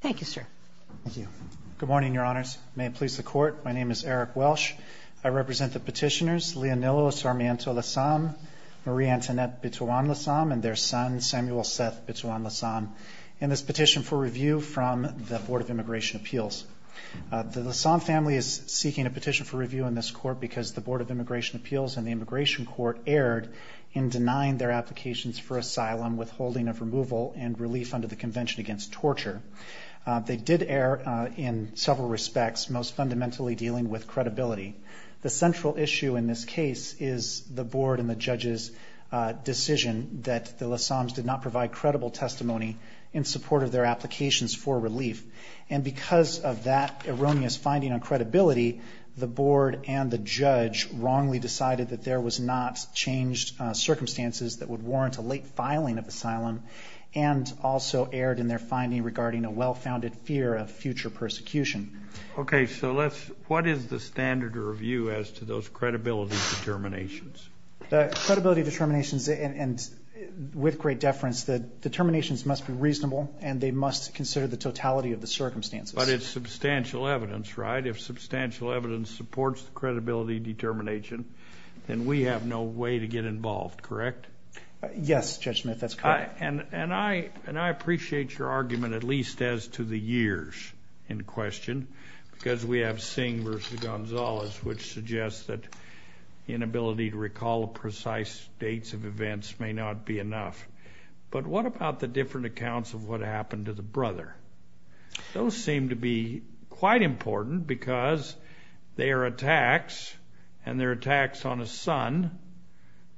Thank you, sir. Thank you. Good morning, your honors. May it please the court. My name is Eric Welsh. I represent the petitioners Leonilo Sarmiento Lasam, Marie-Antoinette Bituan Lasam and their son Samuel Seth Bituan Lasam in this petition for review from the Board of Immigration Appeals. The Lasam family is seeking a petition for review in this court because the Board of Immigration Appeals and the Immigration Court erred in their case against torture. They did err in several respects, most fundamentally dealing with credibility. The central issue in this case is the Board and the judge's decision that the Lasams did not provide credible testimony in support of their applications for relief. And because of that erroneous finding on credibility, the Board and the judge wrongly decided that there was not changed circumstances that would warrant a late filing of asylum and also erred in their finding regarding a well-founded fear of future persecution. Okay, so let's, what is the standard of review as to those credibility determinations? The credibility determinations and with great deference that determinations must be reasonable and they must consider the totality of the circumstances. But it's substantial evidence, right? If substantial evidence supports the credibility determination, then we have no way to get involved, correct? Yes, Judge Smith, that's correct. And I appreciate your argument, at least as to the years in question, because we have Singh versus Gonzalez, which suggests that inability to recall precise dates of events may not be enough. But what about the different accounts of what happened to the brother? Those seem to be quite important because they are attacks, and they're attacks on a son,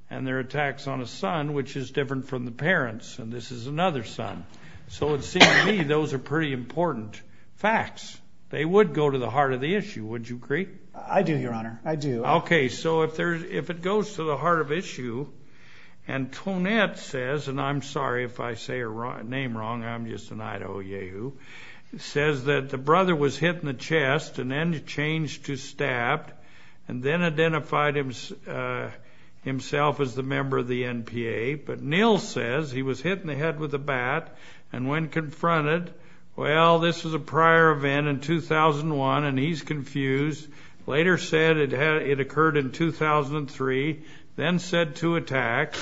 and they're attacks on a son, which is different from the parents, and this is another son. So it seems to me those are pretty important facts. They would go to the heart of the issue, would you agree? I do, Your Honor, I do. Okay, so if it goes to the heart of issue, and Tonette says, and I'm sorry if I say her name wrong, I'm just an Idaho Yehoo, says that the brother was hit in the chest and then changed to stabbed and then identified himself as the member of the NPA. But Neal says he was hit in the chest, it occurred in 2003, then said to attack.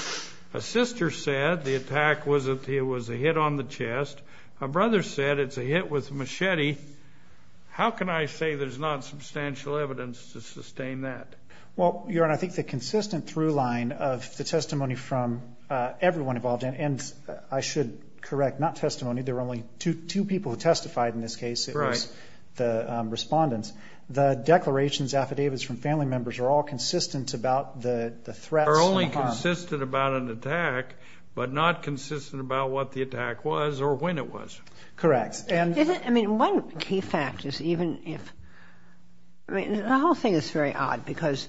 A sister said the attack was a hit on the chest. A brother said it's a hit with machete. How can I say there's not substantial evidence to sustain that? Well, Your Honor, I think the consistent through line of the testimony from everyone involved, and I should correct, not testimony, there were only two people who testified in this case, it was the respondents. The declarations, affidavits from family members are all consistent about the threats and harm. Are only consistent about an attack, but not consistent about what the attack was or when it was. Correct. I mean, one key fact is even if, I mean, the whole thing is very odd, because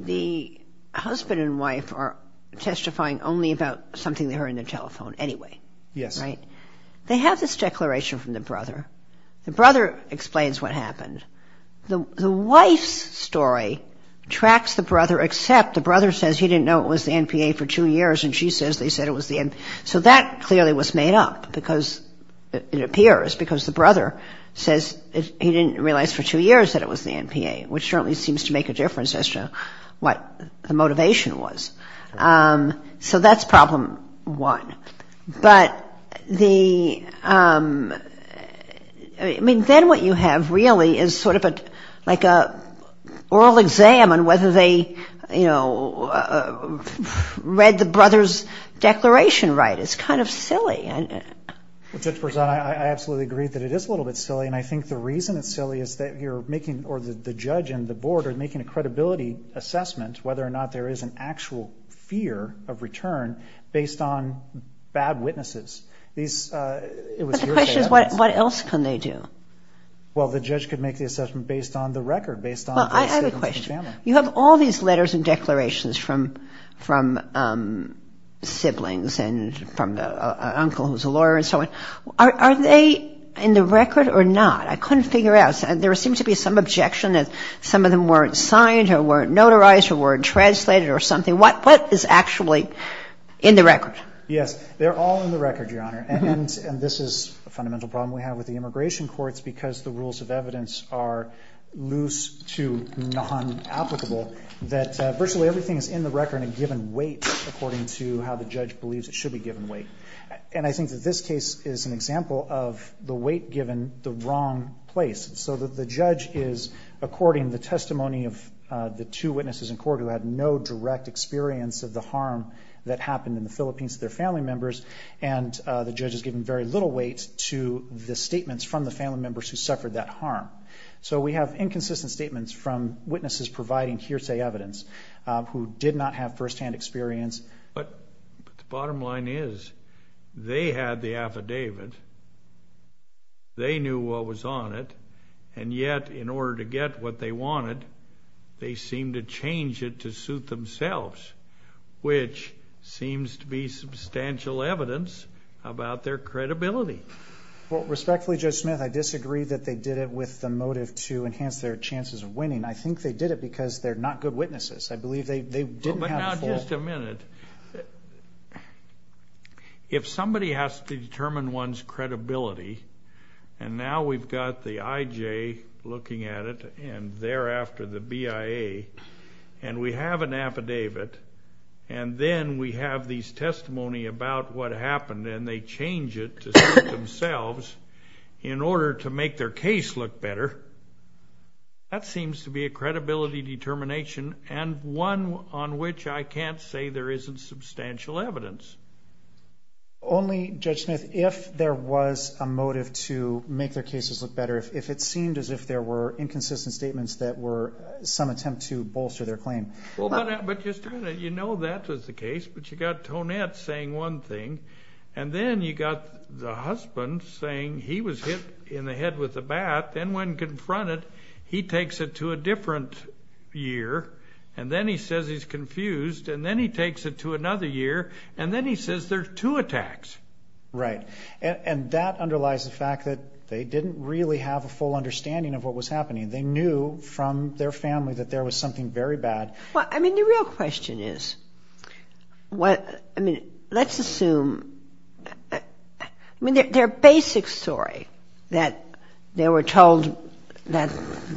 the husband and wife are testifying only about something they heard on their telephone anyway. Yes. They have this declaration from the brother. The brother explains what happened. The wife's story tracks the brother except the brother says he didn't know it was the NPA for two years and she says they said it was the NPA. So that clearly was made up because it appears because the brother says he didn't realize for two years that it was the NPA, which certainly seems to make a difference as to what the motivation was. So that's problem one. But the, I mean, then what you have really is sort of like an oral exam on whether they, you know, read the brother's declaration right. It's kind of silly. I absolutely agree that it is a little bit silly. And I think the reason it's silly is that you're making, or the judge and the board are making a credibility assessment whether or not there is an actual fear of return based on bad witnesses. But the question is what else can they do? Well, the judge could make the assessment based on the record. Well, I have a question. You have all these letters and declarations from siblings and from an uncle who's a lawyer and so on. Are they in the record or not? I couldn't figure out. There seemed to be some objection that some of them weren't signed or weren't notarized or weren't translated or something. What is actually in the record? Yes, they're all in the record, Your Honor. And this is a fundamental problem we have with the immigration courts because the rules of evidence are loose to non-applicable that virtually everything is in the record and given weight according to how the judge believes it should be given weight. And I think that this case is an example of the weight given the wrong place so that the judge is, according to the testimony of the two witnesses in court who had no direct experience of the harm that happened in the Philippines to their family members. And the judge has given very little weight to the statements from the family members who suffered that harm. So we have inconsistent statements from witnesses providing hearsay evidence who did not have firsthand experience. But the bottom line is they had the affidavit. They knew what was on it. And yet, in order to get what they wanted, they seemed to change it to suit themselves, which seems to be substantial evidence about their credibility. Well, respectfully, Judge Smith, I disagree that they did it with the motive to enhance their chances of winning. I think they did it because they're not good witnesses. I believe they didn't have a fault. Just a minute. If somebody has to determine one's credibility, and now we've got the IJ looking at it and thereafter the BIA, and we have an affidavit, and then we have these testimony about what happened and they change it to suit themselves in order to make their case look better, that might say there isn't substantial evidence. Only, Judge Smith, if there was a motive to make their cases look better, if it seemed as if there were inconsistent statements that were some attempt to bolster their claim. But just a minute. You know that was the case, but you've got Tonette saying one thing, and then you've got the husband saying he was hit in the ear, and then he takes it to another ear, and then he says there's two attacks. Right. And that underlies the fact that they didn't really have a full understanding of what was happening. They knew from their family that there was something very bad. Well, I mean, the real question is, what, I mean, let's assume, I mean, their basic story, that they were told that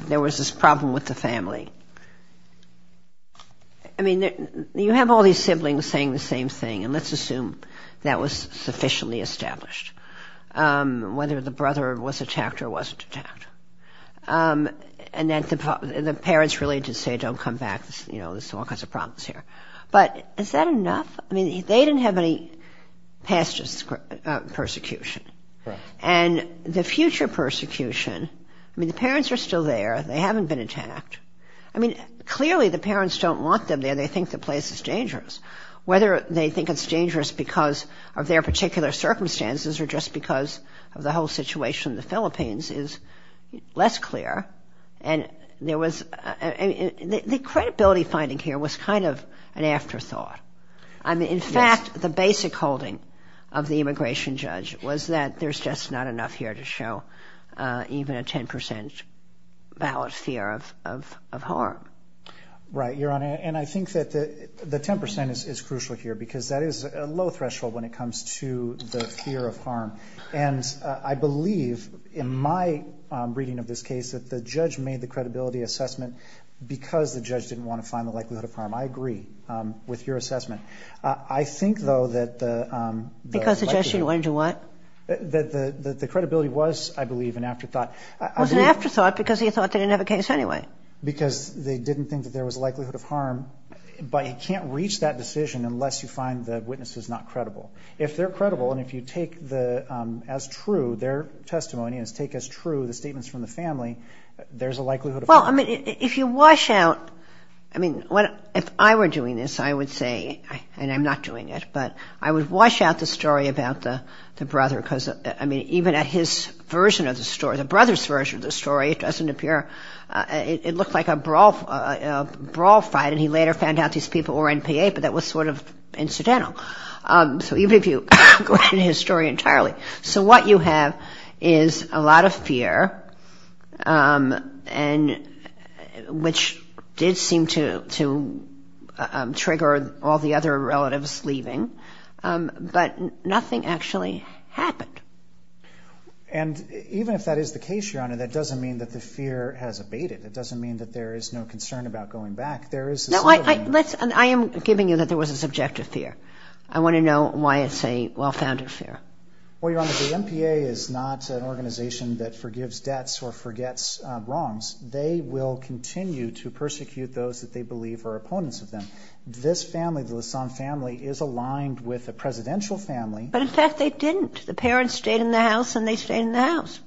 there was this problem with the siblings saying the same thing, and let's assume that was sufficiently established, whether the brother was attacked or wasn't attacked. And that the parents really did say, don't come back, you know, there's all kinds of problems here. But is that enough? I mean, they didn't have any past persecution. Right. And the future persecution, I mean, the parents are still there. They haven't been attacked. I mean, clearly the parents don't want them there. They think the place is dangerous. Whether they think it's dangerous because of their particular circumstances or just because of the whole situation in the Philippines is less clear. And there was, I mean, the credibility finding here was kind of an afterthought. Yes. I mean, in fact, the basic holding of the immigration judge was that there's just not enough here to show even a 10 percent ballot fear of harm. Right, Your Honor. And I think that the 10 percent is crucial here because that is a low threshold when it comes to the fear of harm. And I believe in my reading of this case that the judge made the credibility assessment because the judge didn't want to find the likelihood of harm. I agree with your assessment. I think, though, that the. Because the judge didn't want to do what? That the credibility was, I believe, an afterthought. It was an afterthought because he thought they didn't have a case anyway. Because they didn't think that there was a likelihood of harm. But you can't reach that decision unless you find the witnesses not credible. If they're credible and if you take the as true their testimony and take as true the statements from the family, there's a likelihood. Well, I mean, if you wash out. I mean, if I were doing this, I would say and I'm not doing it, but I would wash out the story about the brother. Because, I mean, even at his version of the story, the brother's version of the story, it doesn't appear. It looked like a brawl, a brawl fight. And he later found out these people were NPA. But that was sort of incidental. So even if you go into his story entirely. So what you have is a lot of fear. And which did seem to trigger all the other relatives leaving. But nothing actually happened. And even if that is the case, Your Honor, that doesn't mean that the fear has abated. It doesn't mean that there is no concern about going back. There is. I am giving you that there was a subjective fear. I want to know why it's a well-founded fear. Well, Your Honor, the NPA is not an organization that forgives debts or forgets wrongs. They will continue to persecute those that they believe are opponents of them. This family, the Lassonde family, is aligned with a presidential family. But in fact, they didn't. The parents stayed in the house and they stayed in the house.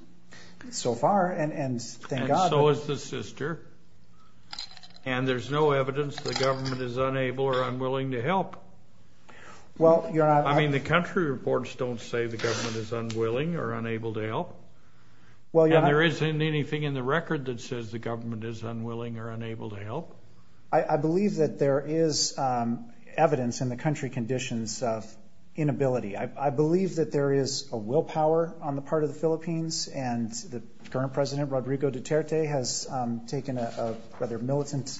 So far, and thank God. And so is the sister. And there's no evidence the government is unable or unwilling to help. Well, Your Honor. I mean, the country reports don't say the government is unwilling or unable to help. Well, Your Honor. And there isn't anything in the record that says the government is unwilling or unable to help. I believe that there is evidence in the country conditions of inability. I believe that there is a willpower on the part of the Philippines. And the current president, Rodrigo Duterte, has taken a rather militant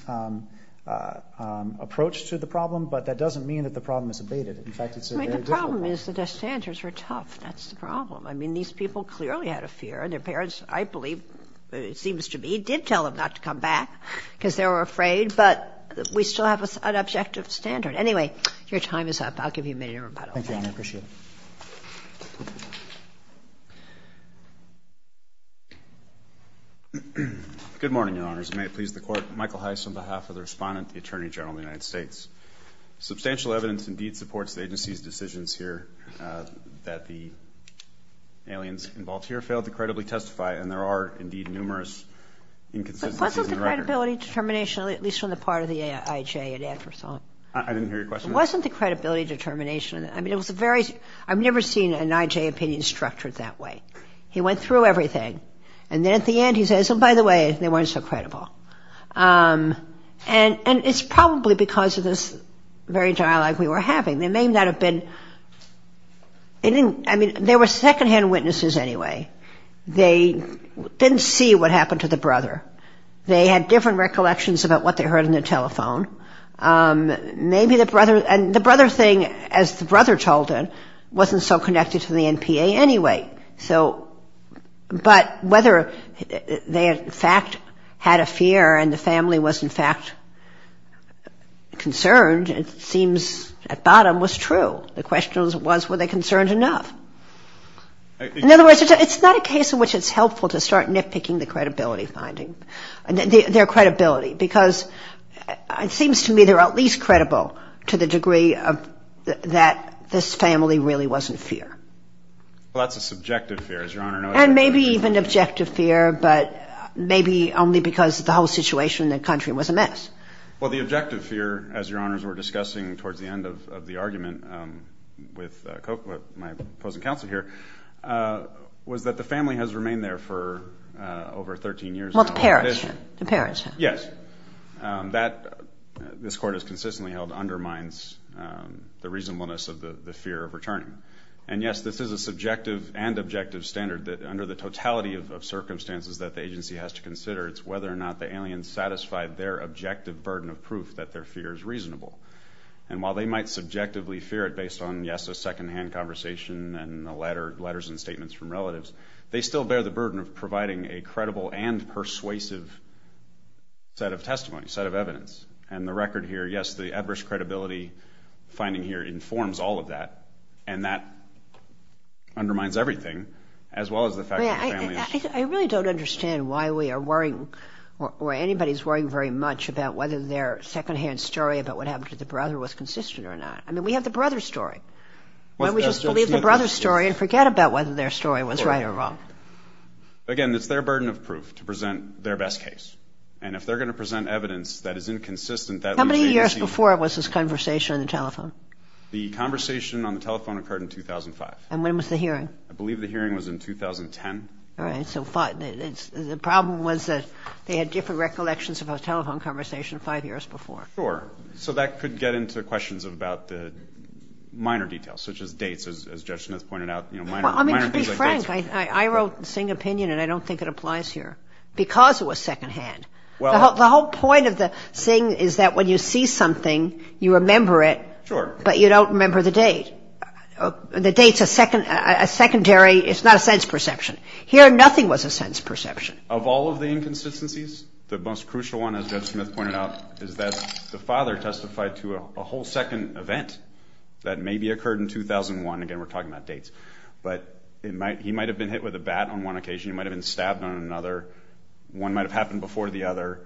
approach to the problem. But that doesn't mean that the problem is abated. In fact, it's a very difficult problem. I mean, the problem is that their standards are tough. That's the problem. I mean, these people clearly had a fear. Their parents, I believe, it seems to me, did tell them not to come back because they were afraid. But we still have an objective standard. Anyway, your time is up. I'll give you a minute in rebuttal. Thank you, Your Honor. I appreciate it. Good morning, Your Honors. May it please the Court. Michael Heiss on behalf of the Respondent, the Attorney General of the United States. Substantial evidence indeed supports the agency's decisions here that the aliens involved here failed to credibly testify. And there are, indeed, numerous inconsistencies in the record. But wasn't the credibility determination, at least on the part of the IJ at AFRESOL? I didn't hear your question. It wasn't the credibility determination. I mean, it was a very – I've never seen an IJ opinion structured that way. He went through everything. And then at the end he says, oh, by the way, they weren't so credible. And it's probably because of this very dialogue we were having. There may not have been – I mean, there were secondhand witnesses anyway. They didn't see what happened to the brother. They had different recollections about what they heard on the telephone. Maybe the brother – and the brother thing, as the brother told him, wasn't so connected to the NPA anyway. So – but whether they, in fact, had a fear and the family was, in fact, concerned, it seems at bottom, was true. The question was, were they concerned enough? In other words, it's not a case in which it's helpful to start nitpicking the credibility finding, their credibility, because it seems to me they're at least credible to the degree that this family really wasn't fear. Well, that's a subjective fear, as Your Honor knows. And maybe even objective fear, but maybe only because the whole situation in the country was a mess. Well, the objective fear, as Your Honors were discussing towards the end of the argument with my opposing counsel here, was that the family has remained there for over 13 years. Well, the parents have. The parents have. Yes. That – this Court has consistently held undermines the reasonableness of the fear of returning. And, yes, this is a subjective and objective standard that, under the totality of circumstances that the agency has to consider, it's whether or not the alien satisfied their objective burden of proof that their fear is reasonable. And while they might subjectively fear it based on, yes, a secondhand conversation and letters and statements from relatives, they still bear the burden of providing a credible and persuasive set of testimony, set of evidence. And the record here, yes, the adverse credibility finding here informs all of that, and that undermines everything, as well as the fact that the family is – I really don't understand why we are worrying or anybody is worrying very much about whether their secondhand story about what happened to the brother was consistent or not. I mean, we have the brother's story. Why don't we just believe the brother's story and forget about whether their story was right or wrong? Again, it's their burden of proof to present their best case. And if they're going to present evidence that is inconsistent, that leaves the agency – How many years before was this conversation on the telephone? The conversation on the telephone occurred in 2005. And when was the hearing? I believe the hearing was in 2010. All right. So the problem was that they had different recollections of a telephone conversation five years before. Sure. So that could get into questions about the minor details, such as dates, as Judge Smith pointed out, you know, minor – Well, I mean, to be frank, I wrote the Singh opinion, and I don't think it applies here. Because it was secondhand. The whole point of the Singh is that when you see something, you remember it. Sure. But you don't remember the date. The date's a secondary – it's not a sense perception. Here, nothing was a sense perception. Of all of the inconsistencies, the most crucial one, as Judge Smith pointed out, is that the father testified to a whole second event that maybe occurred in 2001. Again, we're talking about dates. But he might have been hit with a bat on one occasion. He might have been stabbed on another. One might have happened before the other.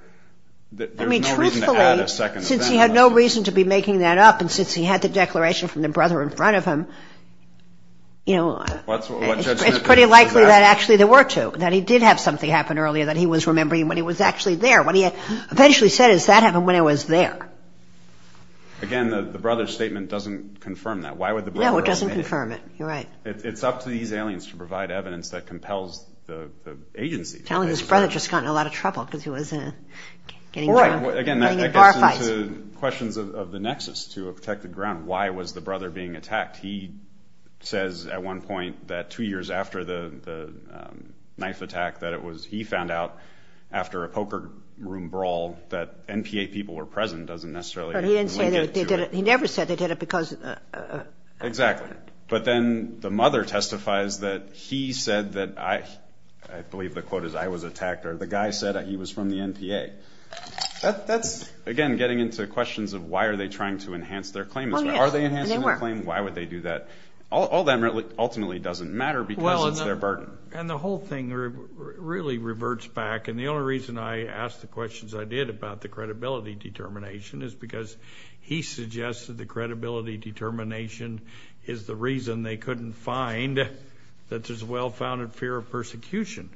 There's no reason to add a second event. I mean, truthfully, since he had no reason to be making that up, and since he had the declaration from the brother in front of him, you know, it's pretty likely that actually there were two, that he did have something happen earlier that he was remembering when he was actually there. What he eventually said is, that happened when I was there. Again, the brother's statement doesn't confirm that. Why would the brother – No, it doesn't confirm it. You're right. It's up to these aliens to provide evidence that compels the agency. Telling his brother just got in a lot of trouble because he was getting in bar fights. Again, that goes into questions of the nexus to a protected ground. Why was the brother being attacked? He says at one point that two years after the knife attack that it was – he found out after a poker room brawl that NPA people were present. It doesn't necessarily – But he didn't say that they did it. He never said they did it because – Exactly. But then the mother testifies that he said that I – I believe the quote is, I was attacked, or the guy said he was from the NPA. That's, again, getting into questions of why are they trying to enhance their claim. Are they enhancing their claim? Why would they do that? All that ultimately doesn't matter because it's their burden. And the whole thing really reverts back, and the only reason I asked the questions I did about the credibility determination is because he suggested the credibility determination is the reason they couldn't find that there's a well-founded fear of persecution.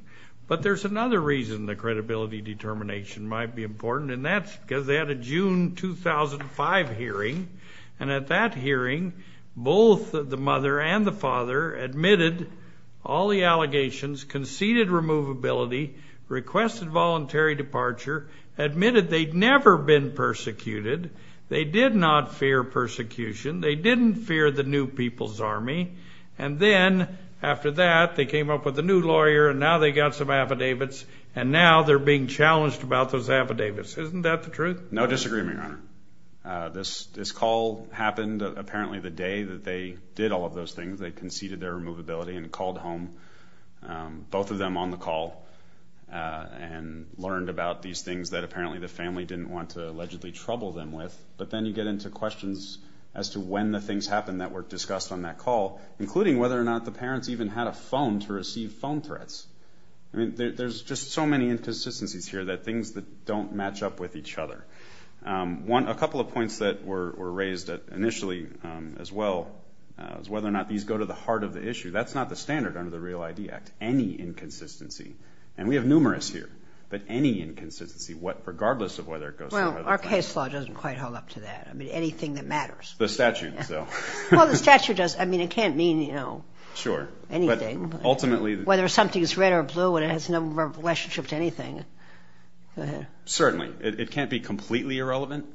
But there's another reason the credibility determination might be important, and that's because they had a June 2005 hearing, and at that hearing both the mother and the father admitted all the allegations, conceded removability, requested voluntary departure, admitted they'd never been persecuted, they did not fear persecution, they didn't fear the new people's army, and then after that they came up with a new lawyer and now they got some affidavits and now they're being challenged about those affidavits. Isn't that the truth? No disagreement, Your Honor. This call happened apparently the day that they did all of those things. They conceded their removability and called home, both of them on the call, and learned about these things that apparently the family didn't want to allegedly trouble them with, but then you get into questions as to when the things happened that were discussed on that call, including whether or not the parents even had a phone to receive phone threats. I mean, there's just so many inconsistencies here that things don't match up with each other. A couple of points that were raised initially as well is whether or not these go to the heart of the issue. That's not the standard under the Real ID Act. Any inconsistency, and we have numerous here, but any inconsistency regardless of whether it goes to the heart of the matter. Well, our case law doesn't quite hold up to that. I mean, anything that matters. The statute, so. Well, the statute does. I mean, it can't mean, you know, anything. Whether something's red or blue, it has no relationship to anything. Certainly. It can't be completely irrelevant.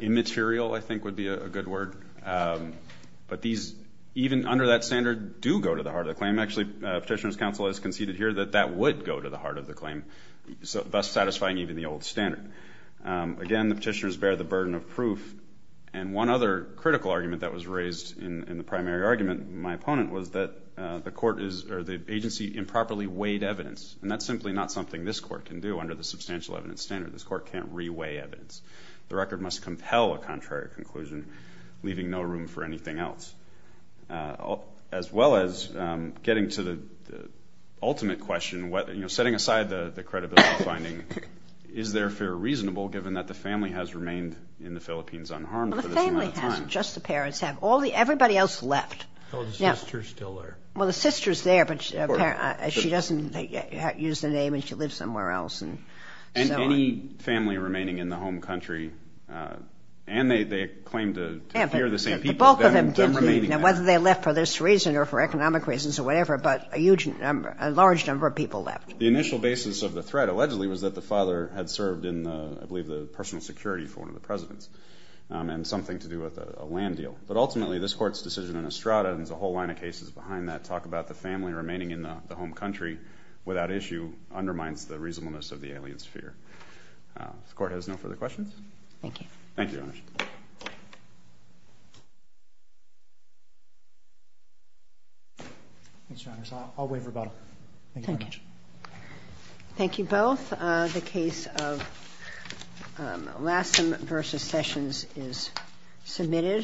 Immaterial, I think, would be a good word. But these, even under that standard, do go to the heart of the claim. Actually, Petitioner's Counsel has conceded here that that would go to the heart of the claim, thus satisfying even the old standard. Again, the petitioners bear the burden of proof. And one other critical argument that was raised in the primary argument, my opponent, was that the agency improperly weighed evidence. And that's simply not something this court can do under the substantial evidence standard. This court can't re-weigh evidence. The record must compel a contrary conclusion, leaving no room for anything else. As well as getting to the ultimate question, you know, setting aside the credibility finding, is their fear reasonable, given that the family has remained in the Philippines unharmed for this amount of time? Well, the family has. Just the parents have. Everybody else left. Well, the sister's still there. Well, the sister's there, but she doesn't use the name and she lives somewhere else. And any family remaining in the home country, and they claim to fear the same people, them remaining there. Now, whether they left for this reason or for economic reasons or whatever, but a huge number, a large number of people left. The initial basis of the threat allegedly was that the father had served in, I believe, the personal security for one of the presidents, and something to do with a land deal. But ultimately, this court's decision in Estrada, and there's a whole line of cases behind that, to talk about the family remaining in the home country without issue, undermines the reasonableness of the aliens' fear. This court has no further questions. Thank you. Thank you, Your Honor. I'll waive rebuttal. Thank you. Thank you both. The case of Lassen v. Sessions is submitted.